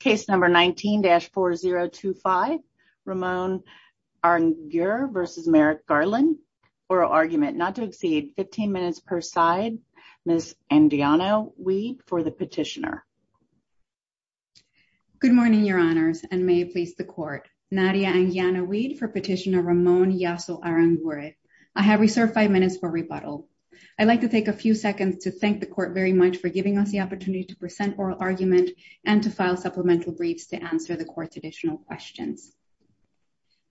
case number 19-4025 Ramon Arangure v. Merrick Garland oral argument not to exceed 15 minutes per side Ms. Anguiano-Weed for the petitioner. Good morning your honors and may it please the court Nadia Anguiano-Weed for petitioner Ramon Yasso Arangure. I have reserved five minutes for rebuttal. I'd like to take a few seconds to thank the court very much for giving us the opportunity to present oral argument and to file supplemental briefs to answer the court's additional questions.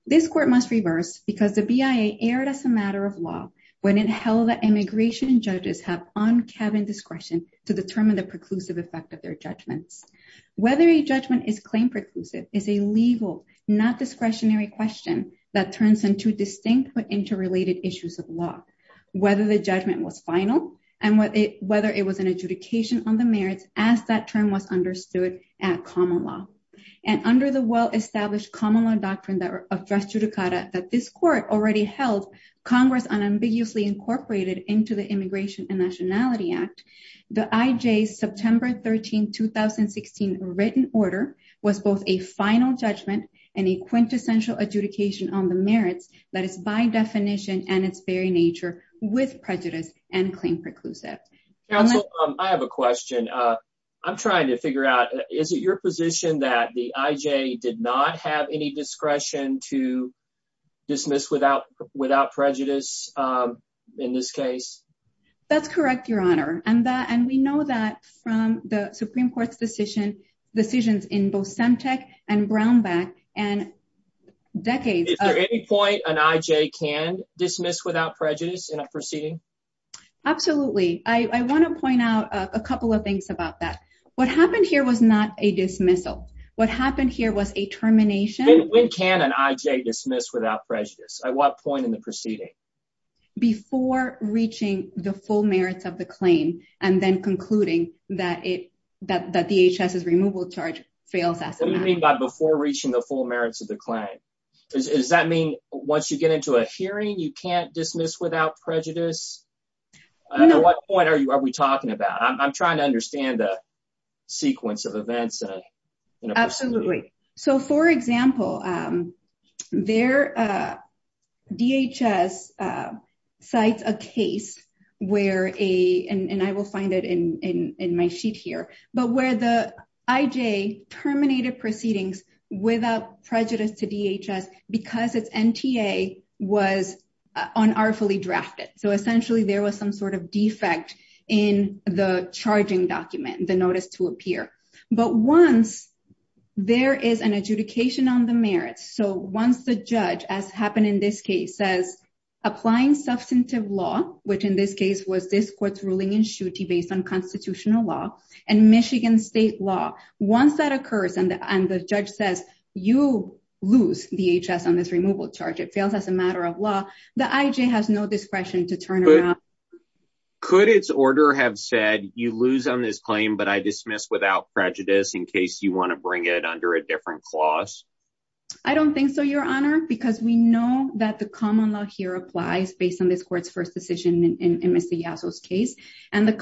This court must reverse because the BIA erred as a matter of law when it held that immigration judges have on-cabin discretion to determine the preclusive effect of their judgments. Whether a judgment is claim preclusive is a legal not discretionary question that turns into distinct but interrelated issues of law. Whether the judgment was final and whether it was an adjudication on the merits as that term was understood at common law and under the well-established common law doctrine that of dress judicata that this court already held congress unambiguously incorporated into the immigration and nationality act the IJ's September 13, 2016 written order was both a final judgment and a quintessential adjudication on the merits that is by definition and its very nature with prejudice and claim preclusive. Counsel, I have a question. I'm trying to figure out is it your position that the IJ did not have any discretion to dismiss without without prejudice in this case? That's correct your honor and that and we know that from the supreme court's decision decisions in both Semtec and Brownback and decades. Is there any point an without prejudice in a proceeding? Absolutely. I want to point out a couple of things about that. What happened here was not a dismissal. What happened here was a termination. When can an IJ dismiss without prejudice? At what point in the proceeding? Before reaching the full merits of the claim and then concluding that it that the HS's removal charge fails. What do you mean by before reaching the full merits of the claim? Does that mean once you get into a hearing you can't dismiss without prejudice? At what point are you are we talking about? I'm trying to understand the sequence of events. Absolutely. So for example, DHS cites a case where a and I will find it in my sheet here but where the IJ terminated proceedings without prejudice to DHS because its NTA was unartifully drafted. So essentially there was some sort of defect in the charging document, the notice to appear. But once there is an adjudication on the merits, so once the judge as happened in this case says applying substantive law which in this case was this court's ruling in shooty based on constitutional law and Michigan state law. Once that occurs and the judge says you lose DHS on this removal charge, it fails as a matter of law, the IJ has no discretion to turn around. Could its order have said you lose on this claim but I dismiss without prejudice in case you want to bring it under a different clause? I don't think so, your honor, because we know that the common law here applies based on this court's first decision in Mr. Yasso's case. And the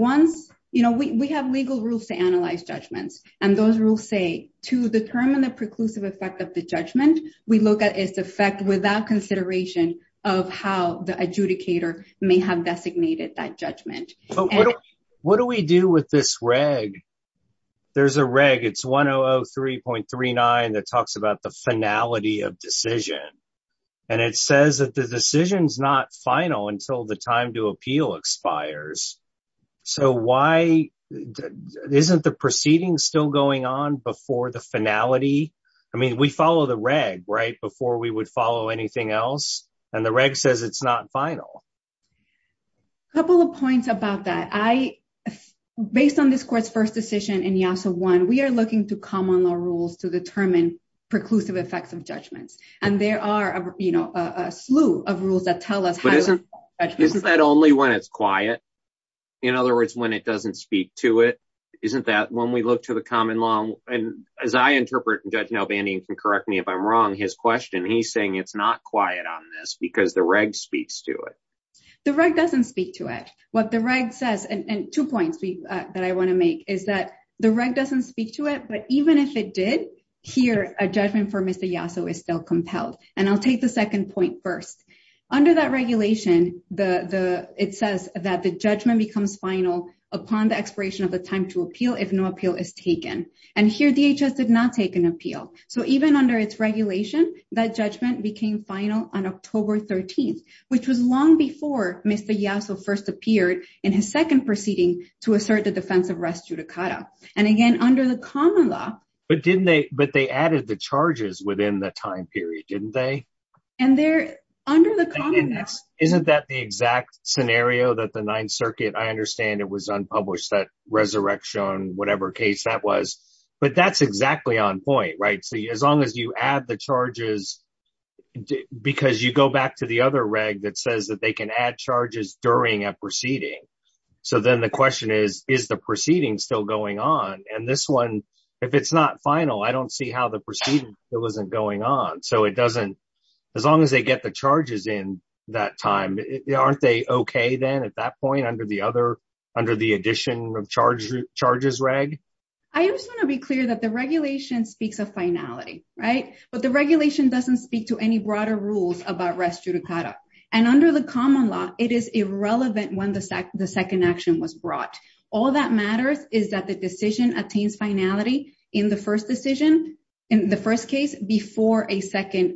rules to analyze judgments and those rules say to determine the preclusive effect of the judgment, we look at its effect without consideration of how the adjudicator may have designated that judgment. What do we do with this reg? There's a reg, it's 1003.39 that talks about the finality of decision and it says that the decision is not final until the time to appeal expires. So why isn't the proceeding still going on before the finality? I mean we follow the reg right before we would follow anything else and the reg says it's not final. A couple of points about that, based on this court's first decision in Yasso 1, we are looking to common law rules to determine preclusive effects of judgments and there are a slew of rules that tell us. Isn't that only when it's quiet? In other words, when it doesn't speak to it? Isn't that when we look to the common law and as I interpret, and Judge Nalbandian can correct me if I'm wrong, his question, he's saying it's not quiet on this because the reg speaks to it. The reg doesn't speak to it. What the reg says and two points that I want to make is that the reg doesn't speak to it but even if it did, here a judgment for Mr. Yasso is still compelled. And I'll take the second point first. Under that regulation, it says that the judgment becomes final upon the expiration of the time to appeal if no appeal is taken. And here DHS did not take an appeal. So even under its regulation, that judgment became final on October 13th, which was long before Mr. Yasso first appeared in his second proceeding to assert the defense of rest judicata. And again, under the common law. But they added the charges within the time period, didn't they? Isn't that the exact scenario that the Ninth Circuit, I understand it was unpublished, that resurrection, whatever case that was. But that's exactly on point, right? So as long as you add the charges, because you go back to the other reg that says that they can add charges during a and this one, if it's not final, I don't see how the proceeding wasn't going on. So it doesn't, as long as they get the charges in that time, aren't they okay then at that point under the addition of charges reg? I just want to be clear that the regulation speaks of finality, right? But the regulation doesn't speak to any broader rules about rest judicata. And under the common law, it is irrelevant when the second action was brought. All that matters is that the decision attains finality in the first decision, in the first case before a second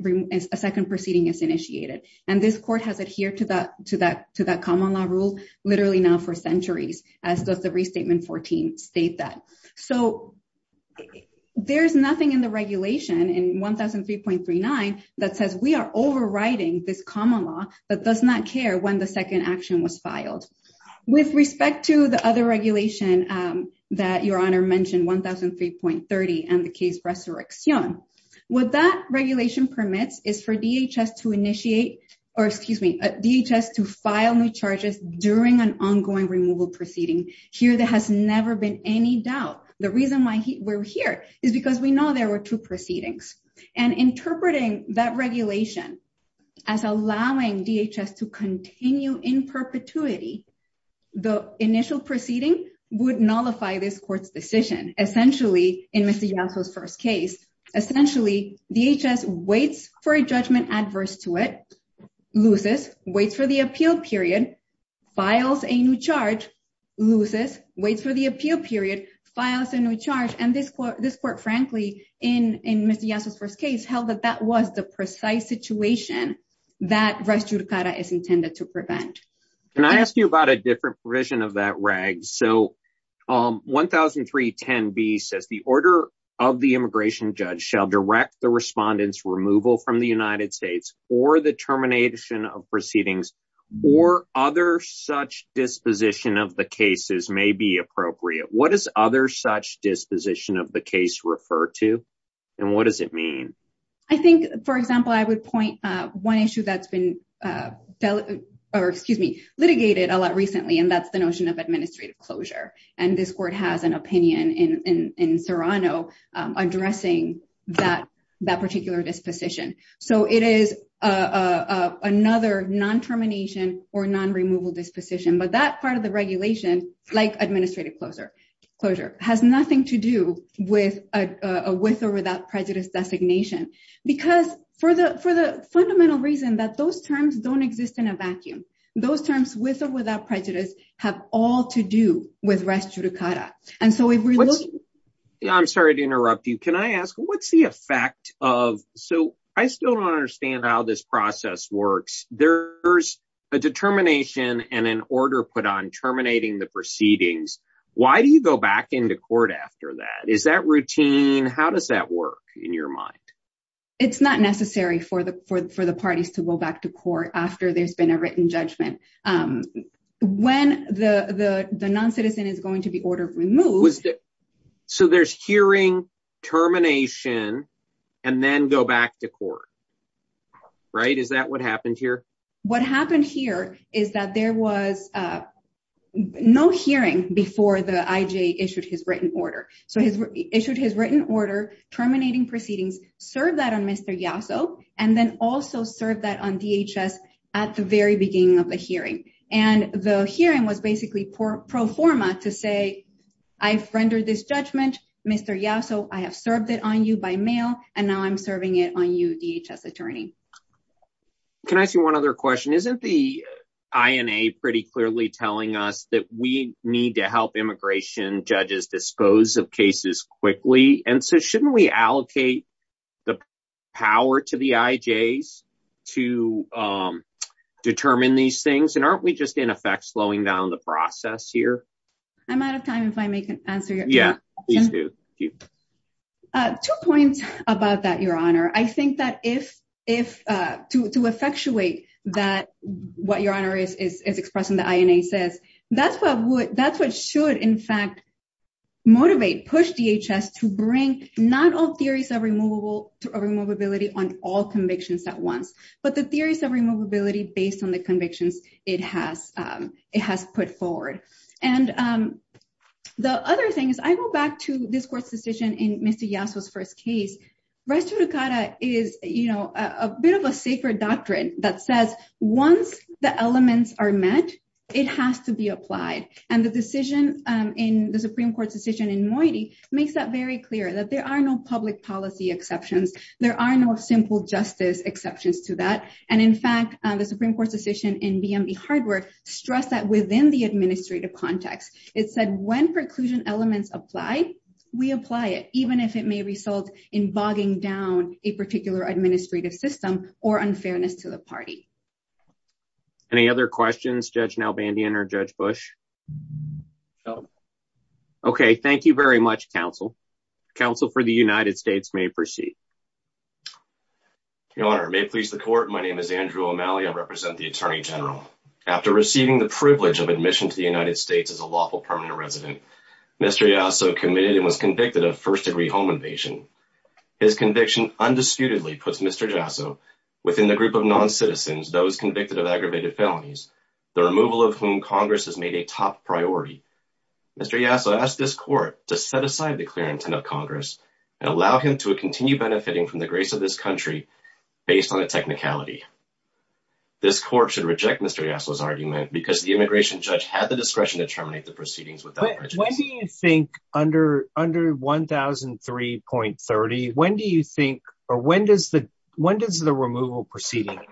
proceeding is initiated. And this court has adhered to that common law rule literally now for centuries, as does the Restatement 14 state that. So there's nothing in the regulation in 1003.39 that says we are was filed. With respect to the other regulation that Your Honor mentioned, 1003.30 and the case what that regulation permits is for DHS to initiate, or excuse me, DHS to file new charges during an ongoing removal proceeding. Here there has never been any doubt. The reason why we're here is because we know there were two proceedings. And interpreting that regulation as allowing DHS to continue in perpetuity, the initial proceeding would nullify this court's decision, essentially in Mr. Yasso's first case. Essentially, DHS waits for a judgment adverse to it, loses, waits for the appeal period, files a new charge, loses, waits for the appeal period, files a new charge. And this court, frankly, in Mr. Yasso's first case, held that that was the precise situation that res judicata is intended to prevent. Can I ask you about a different provision of that reg? So 1003.10b says the order of the immigration judge shall direct the respondent's removal from the United States or the termination of proceedings or other such disposition of the cases may be appropriate. What does other such disposition of the case refer to? And what does it mean? I think, for example, I would point one issue that's been, or excuse me, litigated a lot recently, and that's the notion of administrative closure. And this court has an opinion in Serrano addressing that particular disposition. So it is another non-termination or non-removal disposition. But that part of the regulation, like administrative closure, has nothing to do with a with or without prejudice designation. Because for the fundamental reason that those terms don't exist in a vacuum, those terms with or without prejudice have all to do with res judicata. I'm sorry to interrupt you. Can I ask, what's the effect of, so I still don't understand how this procedure, the termination of proceedings, why do you go back into court after that? Is that routine? How does that work in your mind? It's not necessary for the parties to go back to court after there's been a written judgment. When the non-citizen is going to be ordered removed... So there's hearing, termination, and then go back to court, right? Is that what happened here? What happened here is that there was no hearing before the IJ issued his written order. So he issued his written order, terminating proceedings, served that on Mr. Yasso, and then also served that on DHS at the very beginning of the hearing. And the hearing was basically pro forma to say, I've rendered this judgment, Mr. Yasso, I have served it on you by and now I'm serving it on you, DHS attorney. Can I ask you one other question? Isn't the INA pretty clearly telling us that we need to help immigration judges dispose of cases quickly? And so shouldn't we allocate the power to the IJs to determine these things? And aren't we just in effect slowing down the process here? I'm out of time if I may answer your question. Two points about that, your honor. I think that to effectuate what your honor is expressing the INA says, that's what should in fact motivate, push DHS to bring not all theories of removability on all convictions at once, but the theories of removability based on the convictions it has put forward. And the other thing is, I go back to this court's decision in Mr. Yasso's first case, res judicata is, you know, a bit of a sacred doctrine that says, once the elements are met, it has to be applied. And the decision in the Supreme Court's decision in Moiti makes that very clear that there are no public policy exceptions. There are no simple justice exceptions to that. And in fact, the Supreme Court's decision in BME Hardware stressed that within the administrative context, it said, when preclusion elements apply, we apply it, even if it may result in bogging down a particular administrative system or unfairness to the party. Any other questions, Judge Nalbandian or Judge Bush? Okay, thank you very much, counsel. Counsel for the United States may proceed. Your Honor, may it please the Court, my name is Andrew O'Malley. I represent the Attorney General. After receiving the privilege of admission to the United States as a lawful permanent resident, Mr. Yasso committed and was convicted of first-degree home invasion. His conviction undisputedly puts Mr. Yasso within the group of non-citizens, those convicted of aggravated felonies, the removal of whom Congress has made a top priority. Mr. Yasso asked this country based on a technicality. This Court should reject Mr. Yasso's argument because the immigration judge had the discretion to terminate the proceedings without prejudice. When do you think, under 1003.30, when do you think, or when does the removal proceeding end?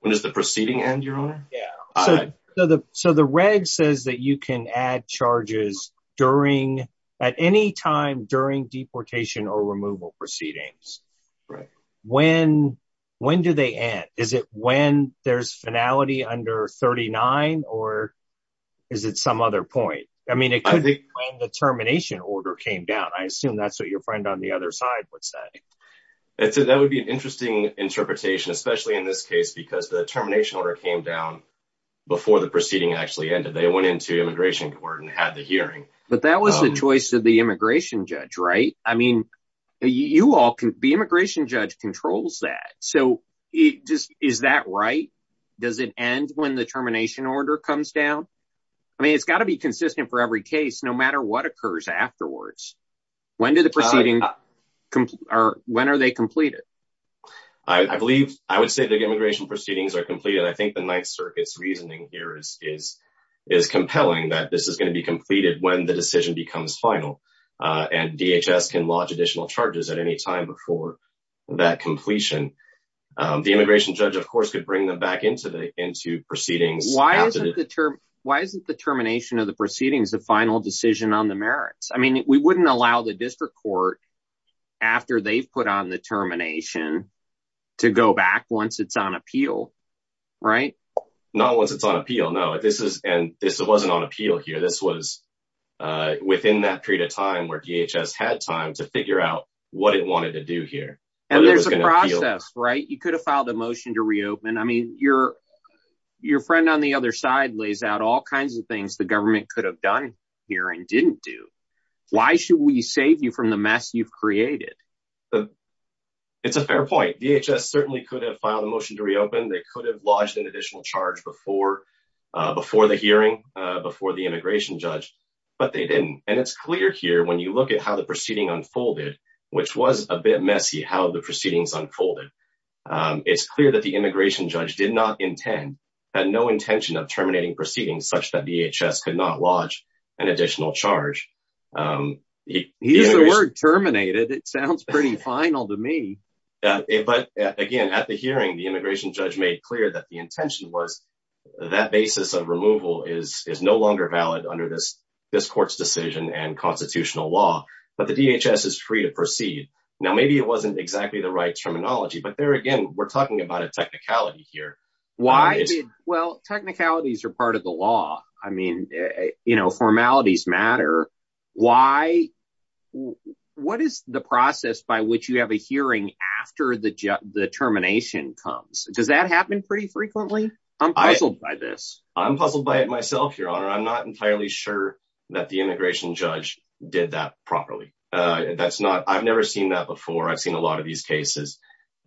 When does the proceeding end, Your Honor? Yeah. So the reg says that you can add charges at any time during deportation or removal proceedings. Right. When do they end? Is it when there's finality under 39 or is it some other point? I mean, it could be when the termination order came down. I assume that's what your friend on the other side would say. That would be an interesting interpretation, especially in this case, because the termination order came down before the proceeding actually ended. They went into immigration court and had the hearing. But that was the choice of the immigration judge, right? I mean, the immigration judge controls that. So is that right? Does it end when the termination order comes down? I mean, it's got to be consistent for every case, no matter what occurs afterwards. When are they completed? I believe I would say the immigration proceedings are completed. I think the Ninth Circuit's reasoning here is compelling that this is going to be completed when the decision becomes final and DHS can lodge additional charges at any time before that completion. The immigration judge, of course, could bring them back into proceedings. Why isn't the termination of the proceedings the final decision on the merits? I mean, we wouldn't allow the district court, after they've put on the termination, to go back once it's on appeal, right? Not once it's on appeal, no. And this wasn't on appeal here. This was within that period of time where DHS had time to figure out what it wanted to do here. And there's a process, right? You could have filed a motion to reopen. I mean, your friend on the other side lays out all kinds of things the government could have done here and didn't do. Why should we save you from the mess you've created? It's a fair point. DHS certainly could have filed a motion to reopen. They could have lodged an additional charge before the hearing, before the immigration judge, but they didn't. And it's clear here, when you look at how the proceeding unfolded, which was a bit messy, how the proceedings unfolded, it's clear that the immigration judge did not intend, had no intention of terminating proceedings such that DHS could not lodge an additional charge. Use the word terminated. It sounds pretty final to me. But again, at the hearing, the immigration judge made clear that the intention was that basis of removal is no longer valid under this court's decision and constitutional law, but the DHS is free to proceed. Now, maybe it wasn't exactly the right terminology, but there, well, technicalities are part of the law. I mean, formalities matter. What is the process by which you have a hearing after the termination comes? Does that happen pretty frequently? I'm puzzled by this. I'm puzzled by it myself, your honor. I'm not entirely sure that the immigration judge did that properly. I've never seen that before. I've seen a lot of these cases.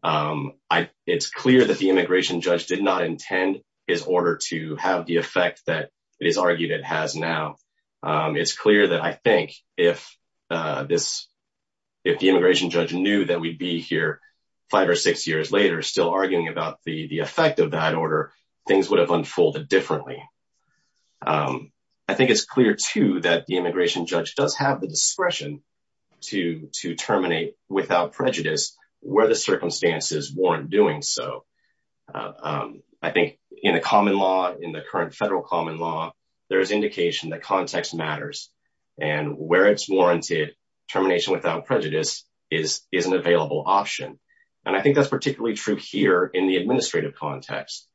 It's clear that the immigration judge did not intend his order to have the effect that it is argued it has now. It's clear that I think if the immigration judge knew that we'd be here five or six years later, still arguing about the effect of that order, things would have unfolded differently. I think it's clear too that the immigration circumstances weren't doing so. I think in the common law, in the current federal common law, there's indication that context matters and where it's warranted, termination without prejudice is an available option. And I think that's particularly true here in the administrative context.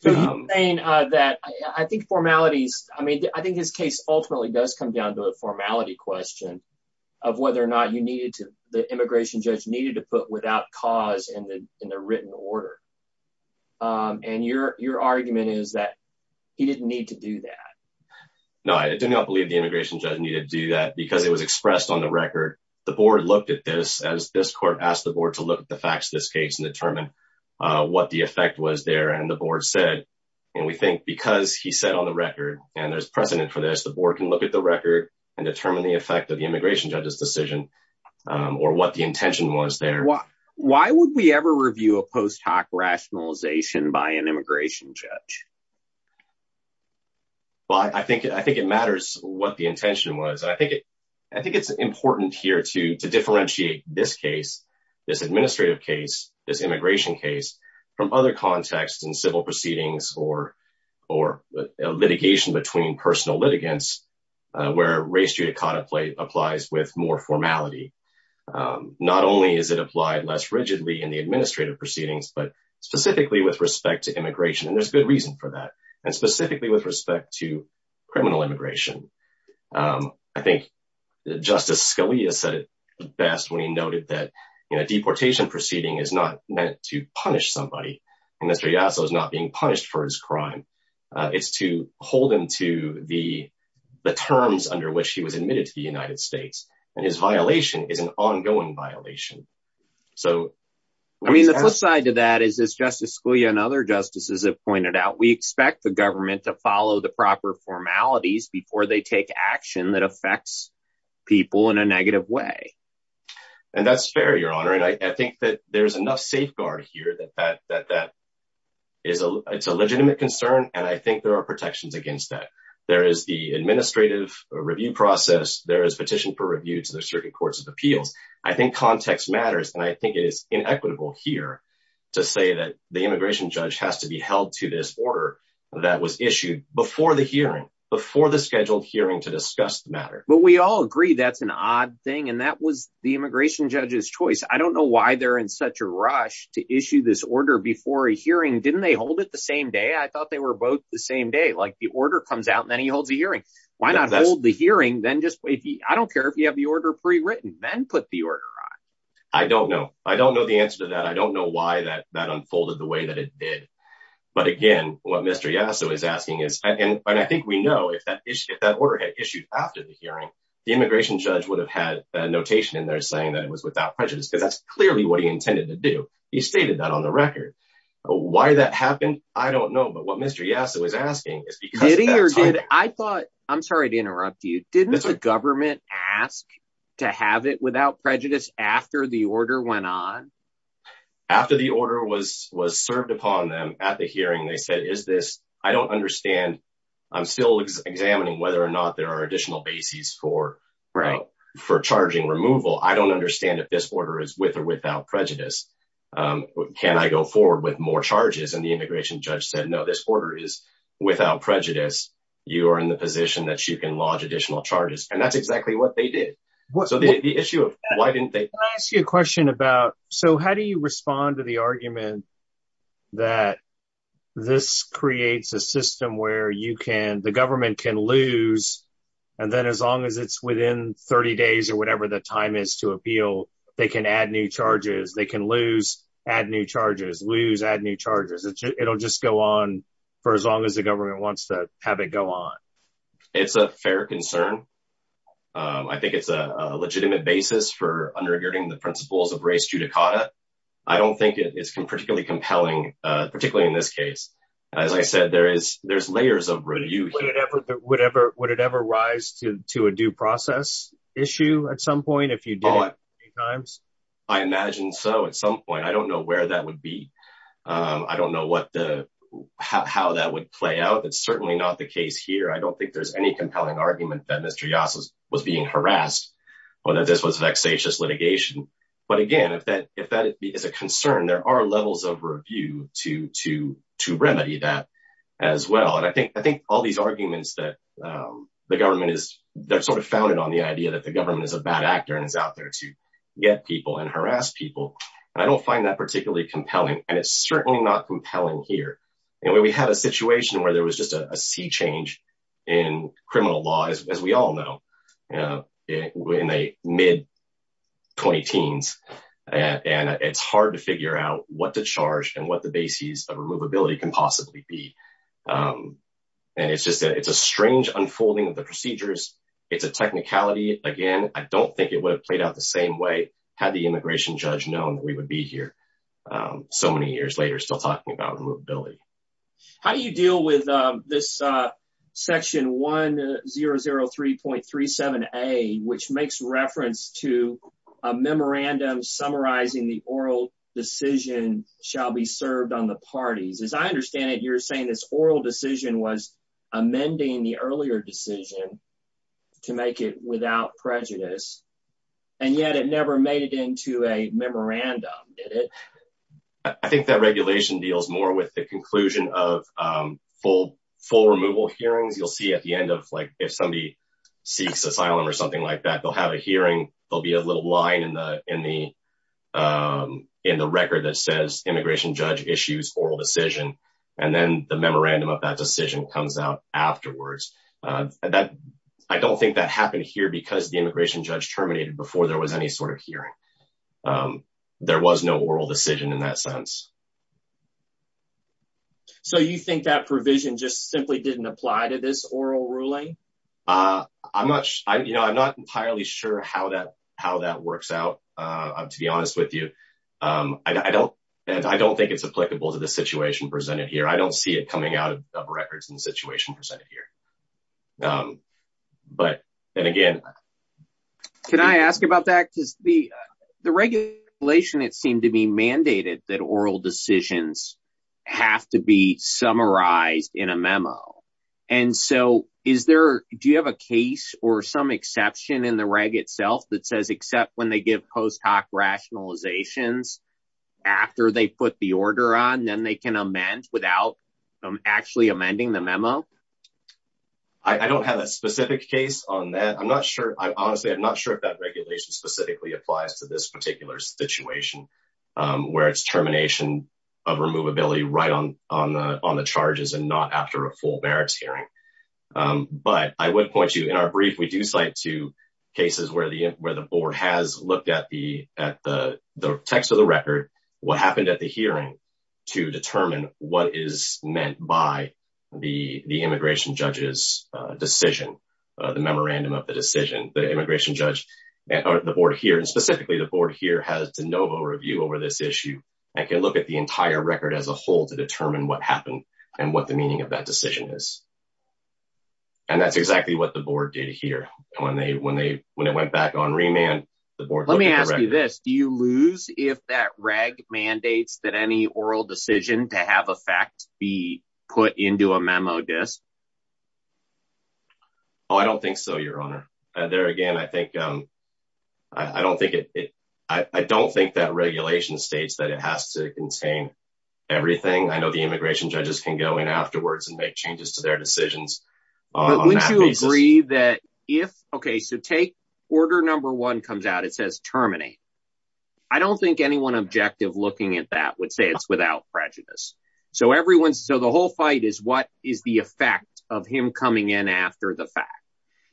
So you're saying that I think formalities, I mean, I think his case ultimately does come down to a formality question of whether or not you needed to, the immigration judge needed to put without cause in the written order. And your argument is that he didn't need to do that. No, I do not believe the immigration judge needed to do that because it was expressed on the record. The board looked at this as this court asked the board to look at the facts of this case and determine what the effect was there. And the board said, and we think because he said on the record and there's precedent for this, the board can look at the record and determine the effect of Why would we ever review a post hoc rationalization by an immigration judge? Well, I think it matters what the intention was. I think it's important here to differentiate this case, this administrative case, this immigration case from other contexts and civil proceedings or litigation between personal litigants where race judicata applies with more formality. Not only is it applied less rigidly in the administrative proceedings, but specifically with respect to immigration. And there's good reason for that. And specifically with respect to criminal immigration. I think Justice Scalia said it best when he noted that in a deportation proceeding is not meant to punish somebody. And Mr. Yasso is not being punished for his crime. It's to hold him to the terms under which he was admitted to the United States. And his violation is an ongoing violation. So I mean, the flip side to that is this Justice Scalia and other justices have pointed out, we expect the government to follow the proper formalities before they take action that affects people in a negative way. And that's fair, Your Honor. And I think that there's enough safeguard here that that is a legitimate concern. And I think there are protections against that. There is the administrative review process. There is petition for review to the circuit courts of appeals. I think context matters. And I think it is inequitable here to say that the immigration judge has to be held to this order that was issued before the hearing, before the scheduled hearing to discuss the matter. But we all agree that's an odd thing. And that was the immigration judge's choice. I don't know why they're in such a rush to issue this order before a hearing. Didn't they hold it the same day? I thought they were both the same day. Like the holds a hearing. Why not hold the hearing then just wait? I don't care if you have the order pre-written, then put the order on. I don't know. I don't know the answer to that. I don't know why that that unfolded the way that it did. But again, what Mr. Yasso is asking is, and I think we know if that order had issued after the hearing, the immigration judge would have had a notation in there saying that it was without prejudice, because that's clearly what he intended to do. He stated that on the record. Why that happened? I don't know. But what Mr. Yasso is asking is I'm sorry to interrupt you. Didn't the government ask to have it without prejudice after the order went on? After the order was served upon them at the hearing, they said, I don't understand. I'm still examining whether or not there are additional bases for charging removal. I don't understand if this order is with or without prejudice. Can I go forward with more charges? And the immigration judge said, no, this order is without prejudice. You are in the position that you can lodge additional charges. And that's exactly what they did. So the issue of why didn't they? Can I ask you a question about, so how do you respond to the argument that this creates a system where you can, the government can lose, and then as long as it's within 30 days or whatever the time is to appeal, they can add new charges. They can lose, add new charges, lose, add new charges. It'll just go on for as long as the government wants to have it go on. It's a fair concern. I think it's a legitimate basis for undergirding the principles of race judicata. I don't think it's particularly compelling, particularly in this case. As I said, there's you did it many times? I imagine so at some point. I don't know where that would be. I don't know what the, how that would play out. It's certainly not the case here. I don't think there's any compelling argument that Mr. Yass was being harassed or that this was vexatious litigation. But again, if that, if that is a concern, there are levels of review to, to, to remedy that as well. And I think, I think all these arguments that the government is, they're sort of founded on the idea that the government is a bad actor and is out there to get people and harass people. And I don't find that particularly compelling. And it's certainly not compelling here. And when we have a situation where there was just a sea change in criminal law, as we all know, you know, in the mid 20 teens, and it's hard to figure out what to charge and what the basis of removability can possibly be. And it's just a, it's a strange unfolding of the it's a technicality. Again, I don't think it would have played out the same way. Had the immigration judge known we would be here so many years later, still talking about removability. How do you deal with this section 1003.37 a, which makes reference to a memorandum summarizing the oral decision shall be served on the parties. As I understand it, you're saying this oral decision was amending the earlier decision to make it without prejudice. And yet, it never made it into a memorandum, did it? I think that regulation deals more with the conclusion of full, full removal hearings, you'll see at the end of like, if somebody seeks asylum or something like that, they'll have a hearing, there'll be a little line in the in the record that says immigration judge issues oral decision. And then the memorandum of that decision comes out afterwards. That I don't think that happened here, because the immigration judge terminated before there was any sort of hearing. There was no oral decision in that sense. So you think that provision just simply didn't apply to this oral ruling? Uh, I'm not, I'm, you know, I'm not entirely sure how that, how that works out. To be honest with you. I don't, I don't think it's applicable to the situation presented here. I don't see it coming out of records in the situation presented here. But then again, can I ask about that? Because the, the regulation, it seemed to be mandated that oral decisions have to be summarized in a memo. And so is there, do you have a case or some exception in the reg itself that says except when they give post hoc rationalizations after they put the order on, then they can amend without actually amending the memo? I don't have a specific case on that. I'm not sure. I'm honestly, I'm not sure if that regulation specifically applies to this particular situation, where it's termination of removability right on, on the, on the charges and not after a full merits hearing. But I would point you in our brief, we do cite two cases where the, where the board has looked at the, at the, the text of the record, what happened at the hearing to determine what is meant by the, the immigration judge's decision, the memorandum of the decision, the immigration judge, or the board here. And specifically the board here has de novo review over this issue. I can look at the entire record as a whole to determine what happened and what the meaning of that decision is. And that's exactly what the board did here. And when they, when they, when it went back on remand, the board, let me ask you this, do you lose if that reg mandates that any oral decision to have a fact be put into a memo desk? Oh, I don't think so. Your honor. And there again, I think, I don't think it, I don't think that regulation states that it has to contain everything. I know the immigration judges can go in afterwards and make changes to their decisions. Would you agree that if, okay, so take order number one comes out, it says terminate. I don't think anyone objective looking at that would say it's without prejudice. So everyone's, so the whole fight is what is the effect of him coming in after the fact,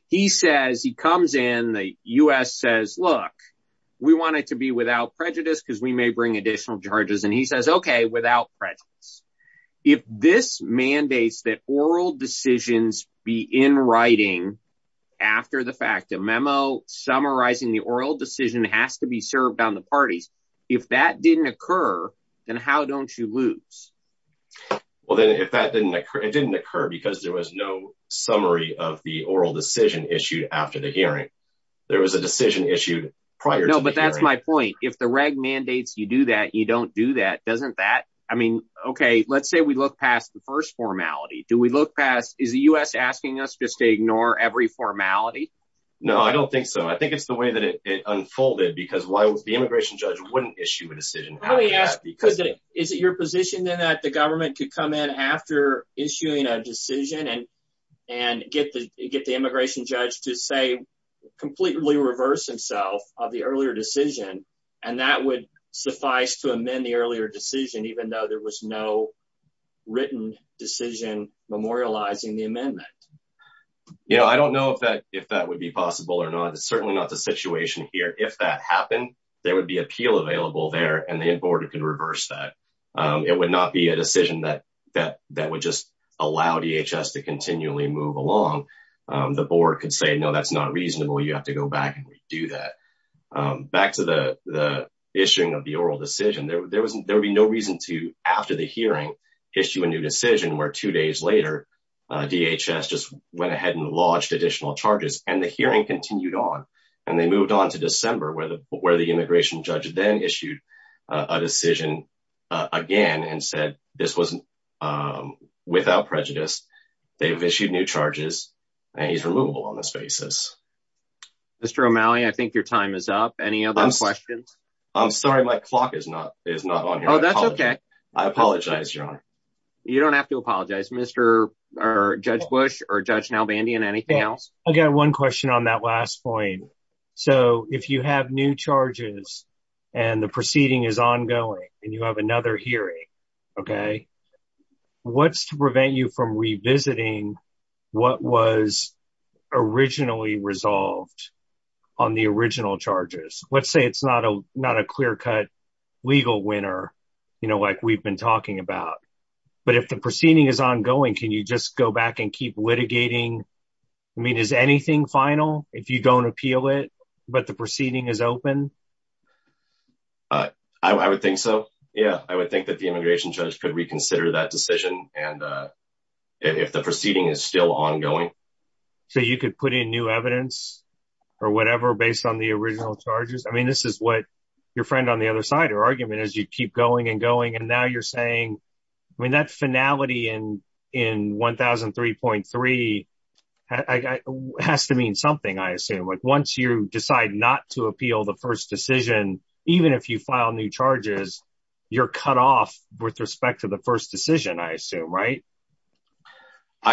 he says, he comes in the U S says, look, we want it to be without prejudice because we may bring additional charges. And he says, okay, without prejudice, if this mandates that oral decisions be in writing after the fact of memo summarizing the oral decision has to be served on the parties. If that didn't occur, then how don't you lose? Well, then if that didn't occur, it didn't occur because there was no summary of the oral decision issued after the hearing, there was a decision issued prior. But that's my point. If the reg mandates you do that, you don't do that. Doesn't that, I mean, okay, let's say we look past the first formality. Do we look past is the U S asking us just to ignore every formality? No, I don't think so. I think it's the way that it wouldn't issue a decision. Is it your position then that the government could come in after issuing a decision and, and get the, get the immigration judge to say completely reverse himself of the earlier decision. And that would suffice to amend the earlier decision, even though there was no written decision memorializing the amendment. Yeah. I don't know if that, if that would be possible or not, it's certainly not the situation here. If that happened, there would be appeal available there and the importer can reverse that. It would not be a decision that, that, that would just allow DHS to continually move along. The board could say, no, that's not reasonable. You have to go back and redo that. Back to the, the issuing of the oral decision. There wasn't, there would be no reason to, after the hearing issue, a new decision where two days later, DHS just went ahead and lodged additional charges and the hearing continued on and they moved on to December where the, where the immigration judge then issued a decision again and said, this wasn't without prejudice. They've issued new charges and he's removable on this basis. Mr. O'Malley, I think your time is up. Any other questions? I'm sorry. My clock is not, is not on here. Oh, that's okay. I apologize. Your honor. You don't have to apologize Mr. or Judge Bush or Judge Nalbandian. Anything else? I got one question on that last point. So if you have new charges and the proceeding is ongoing and you have another hearing, okay, what's to prevent you from revisiting what was originally resolved on the original charges? Let's say it's not a, not a clear cut legal winner, you know, like we've been talking about, but if the proceeding is ongoing, can you just go back and keep litigating? I mean, is anything final if you don't appeal it, but the proceeding is open? I would think so. Yeah. I would think that the immigration judge could reconsider that decision. And if the proceeding is still ongoing. So you could put in new evidence or whatever, based on the original charges. I mean, this is what your friend on the other side or argument as you keep going and going. And now you're saying, I mean, that finality in, in 1,003.3 has to mean something. I assume like once you decide not to appeal the first decision, even if you file new charges, you're cut off with respect to the first decision, I assume, right?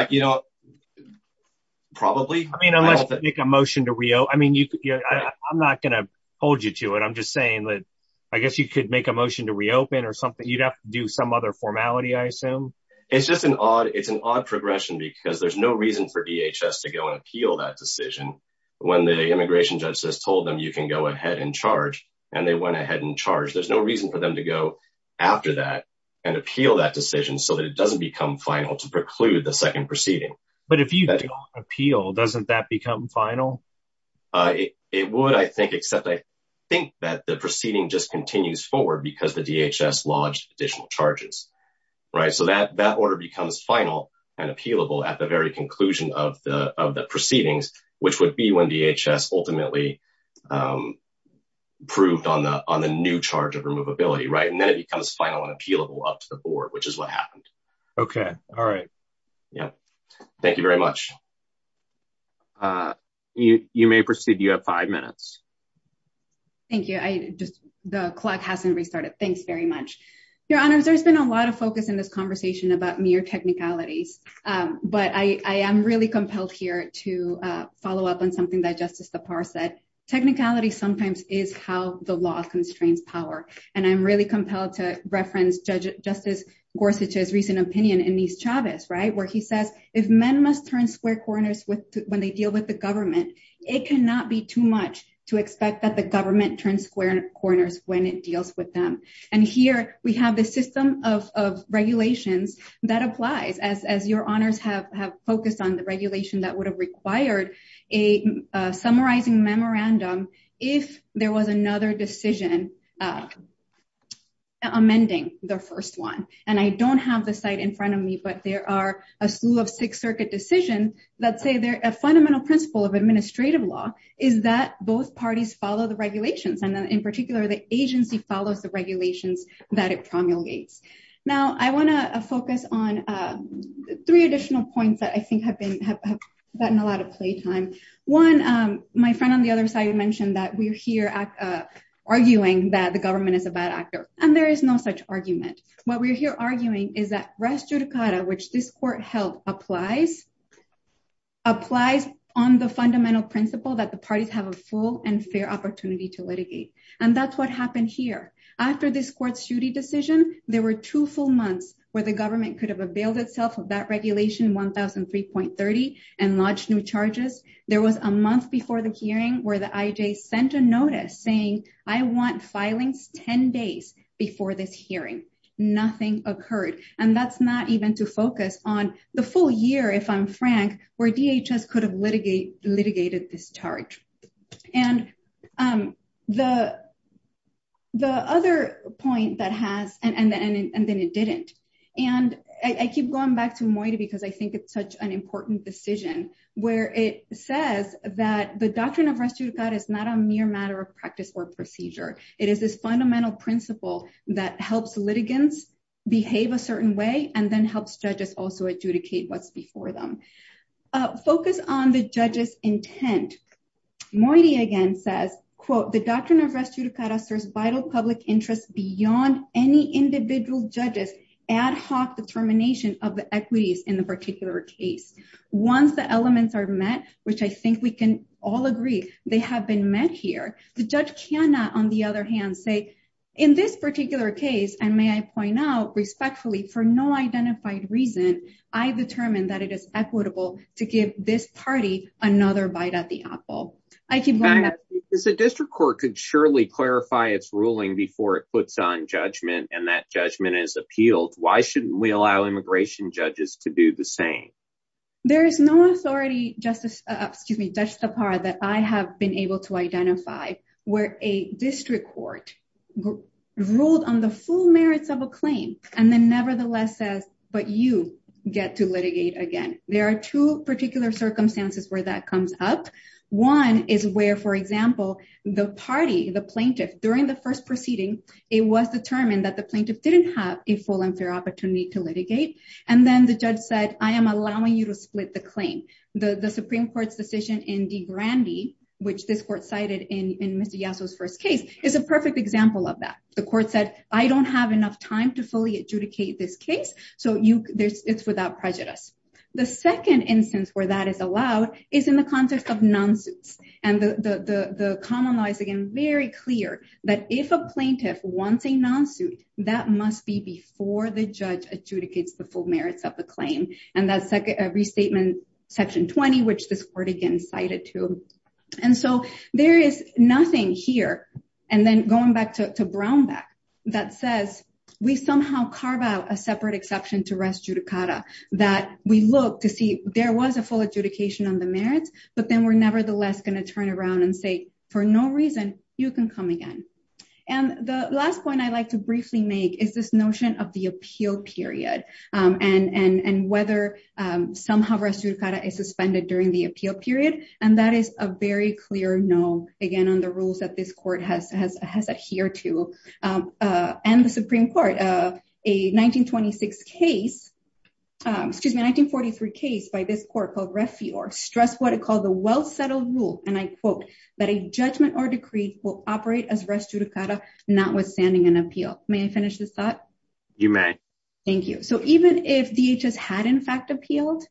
You know, probably. I mean, unless you make a motion to reo. I mean, you could, I'm not going to hold you to it. I'm just saying that I guess you could make a motion to reopen or something. You'd have to do some other formality. I assume it's just an odd, it's an odd progression because there's no reason for DHS to go and appeal that decision. When the immigration judge says, told them you can go ahead and charge. And they went ahead and charged. There's no reason for them to go after that and appeal that decision so that it doesn't become final to preclude the would, I think, except I think that the proceeding just continues forward because the DHS lodged additional charges, right? So that, that order becomes final and appealable at the very conclusion of the, of the proceedings, which would be when DHS ultimately approved on the, on the new charge of removability. Right. And then it becomes final and appealable up to the board, which is what happened. Okay. All right. Yeah. Thank you very much. You, you may proceed. You have five minutes. Thank you. I just, the clock hasn't restarted. Thanks very much. Your honors. There's been a lot of focus in this conversation about mere technicalities. But I, I am really compelled here to follow up on something that justice, the par said, technicality sometimes is how the law constrains power. And I'm really compelled to reference judge justice Gorsuch's recent opinion in these Chavez, right? Where he says, if men must turn square corners with when they deal with the It cannot be too much to expect that the government turns square corners when it deals with them. And here we have the system of regulations that applies as, as your honors have, have focused on the regulation that would have required a summarizing memorandum. If there was another decision amending the first one, and I don't have the site in front of me, but there are a slew of six circuit decision that say they're a fundamental principle of administrative law is that both parties follow the regulations. And then in particular, the agency follows the regulations that it promulgates. Now I want to focus on three additional points that I think have been, have gotten a lot of play time. One, my friend on the other side, you mentioned that we're here arguing that the government is a bad actor and there is no such argument. What we're here arguing is that res judicata, which this court held applies, applies on the fundamental principle that the parties have a full and fair opportunity to litigate. And that's what happened here. After this court's Judy decision, there were two full months where the government could have availed itself of that regulation, 1,003.30 and lodged new charges. There was a month before the hearing where the IJ sent a notice saying, I want filings 10 days before this hearing, nothing occurred. And that's not even to focus on the full year, if I'm frank, where DHS could have litigated this charge. And the other point that has, and then it didn't, and I keep going back to Moita because I think it's such an important decision where it says that the doctrine of res judicata is not a mere matter of practice or procedure. It is this fundamental principle that helps litigants behave a certain way and then helps judges also adjudicate what's before them. Focus on the judge's intent. Moita again says, quote, the doctrine of res judicata serves vital public interests beyond any individual judges ad hoc determination of the equities in the particular case. Once the elements are met, which I think we can all agree they have been met here, the judge cannot, on the other hand, say in this particular case, and may I point out respectfully for no identified reason, I determined that it is equitable to give this party another bite at the apple. I keep going back. If the district court could surely clarify its ruling before it puts on judgment and that judgment is appealed, why shouldn't we allow immigration judges to do the same? There is no authority, Justice, excuse me, Judge Tapar, that I have been able to identify where a district court ruled on the full merits of a claim and then nevertheless says, but you get to litigate again. There are two particular circumstances where that comes up. One is where, for example, the party, the plaintiff during the first proceeding, it was determined that the plaintiff didn't have a full and fair opportunity to litigate. And then the judge said, I am allowing you to split the claim. The Supreme Court's decision in DeGrande, which this court cited in Mr. Yasso's first case, is a perfect example of that. The court said, I don't have enough time to fully adjudicate this case, so it's without prejudice. The second instance where that is allowed is in the context of non-suits. And the common law is, again, very clear that if a plaintiff wants a non-suit, that must be before the judge adjudicates the full merits of the claim. And that's restatement section 20, which this court again cited to. And so there is nothing here, and then going back to Brownback, that says we somehow carve out a separate exception to res judicata, that we look to see there was a full adjudication on the merits, but then we're nevertheless going to turn around and say, for no reason, you can come again. And the last point I'd like to briefly make is this notion of the appeal period, and whether somehow res judicata is suspended during the appeal period. And that is a very clear no, again, on the rules that this court has adhered to. And the Supreme Court, a 1926 case, excuse me, a 1943 case by this court called Refior, stressed what it called the well-settled rule, and I quote, that a judgment or decree will operate as res judicata, not with standing an appeal. May I finish this thought? You may. Thank you. So even if DHS had in fact appealed,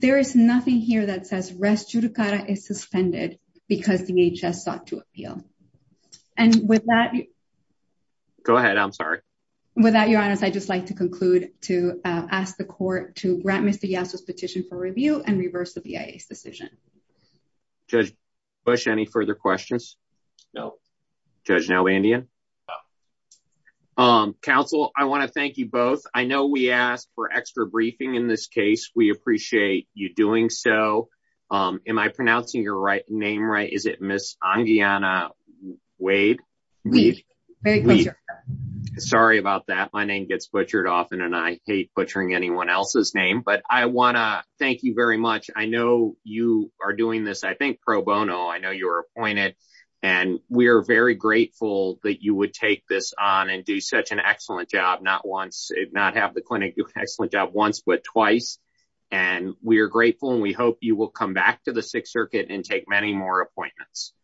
there is nothing here that says res judicata is suspended because DHS sought to appeal. And with that... Go ahead, I'm sorry. With that, Your Honor, I'd just like to conclude to ask the court to grant Mr. Yasso's petition for review and reverse the BIA's decision. Judge Bush, any further questions? No. Judge Nelbandian? Counsel, I want to thank you both. I know we asked for extra briefing in this case. We appreciate you doing so. Am I pronouncing your name right? Is it Ms. Angiana Wade? Sorry about that. My name gets butchered often, and I hate butchering anyone else's name. But I want to thank you very much. I know you are doing this, I think, pro bono. I know you were appointed, and we are very grateful that you would take this on and do such an excellent job. Not once, not have the clinic do an excellent job once, but twice. And we are grateful, and we hope you will come back to the Sixth Circuit and take many more appointments.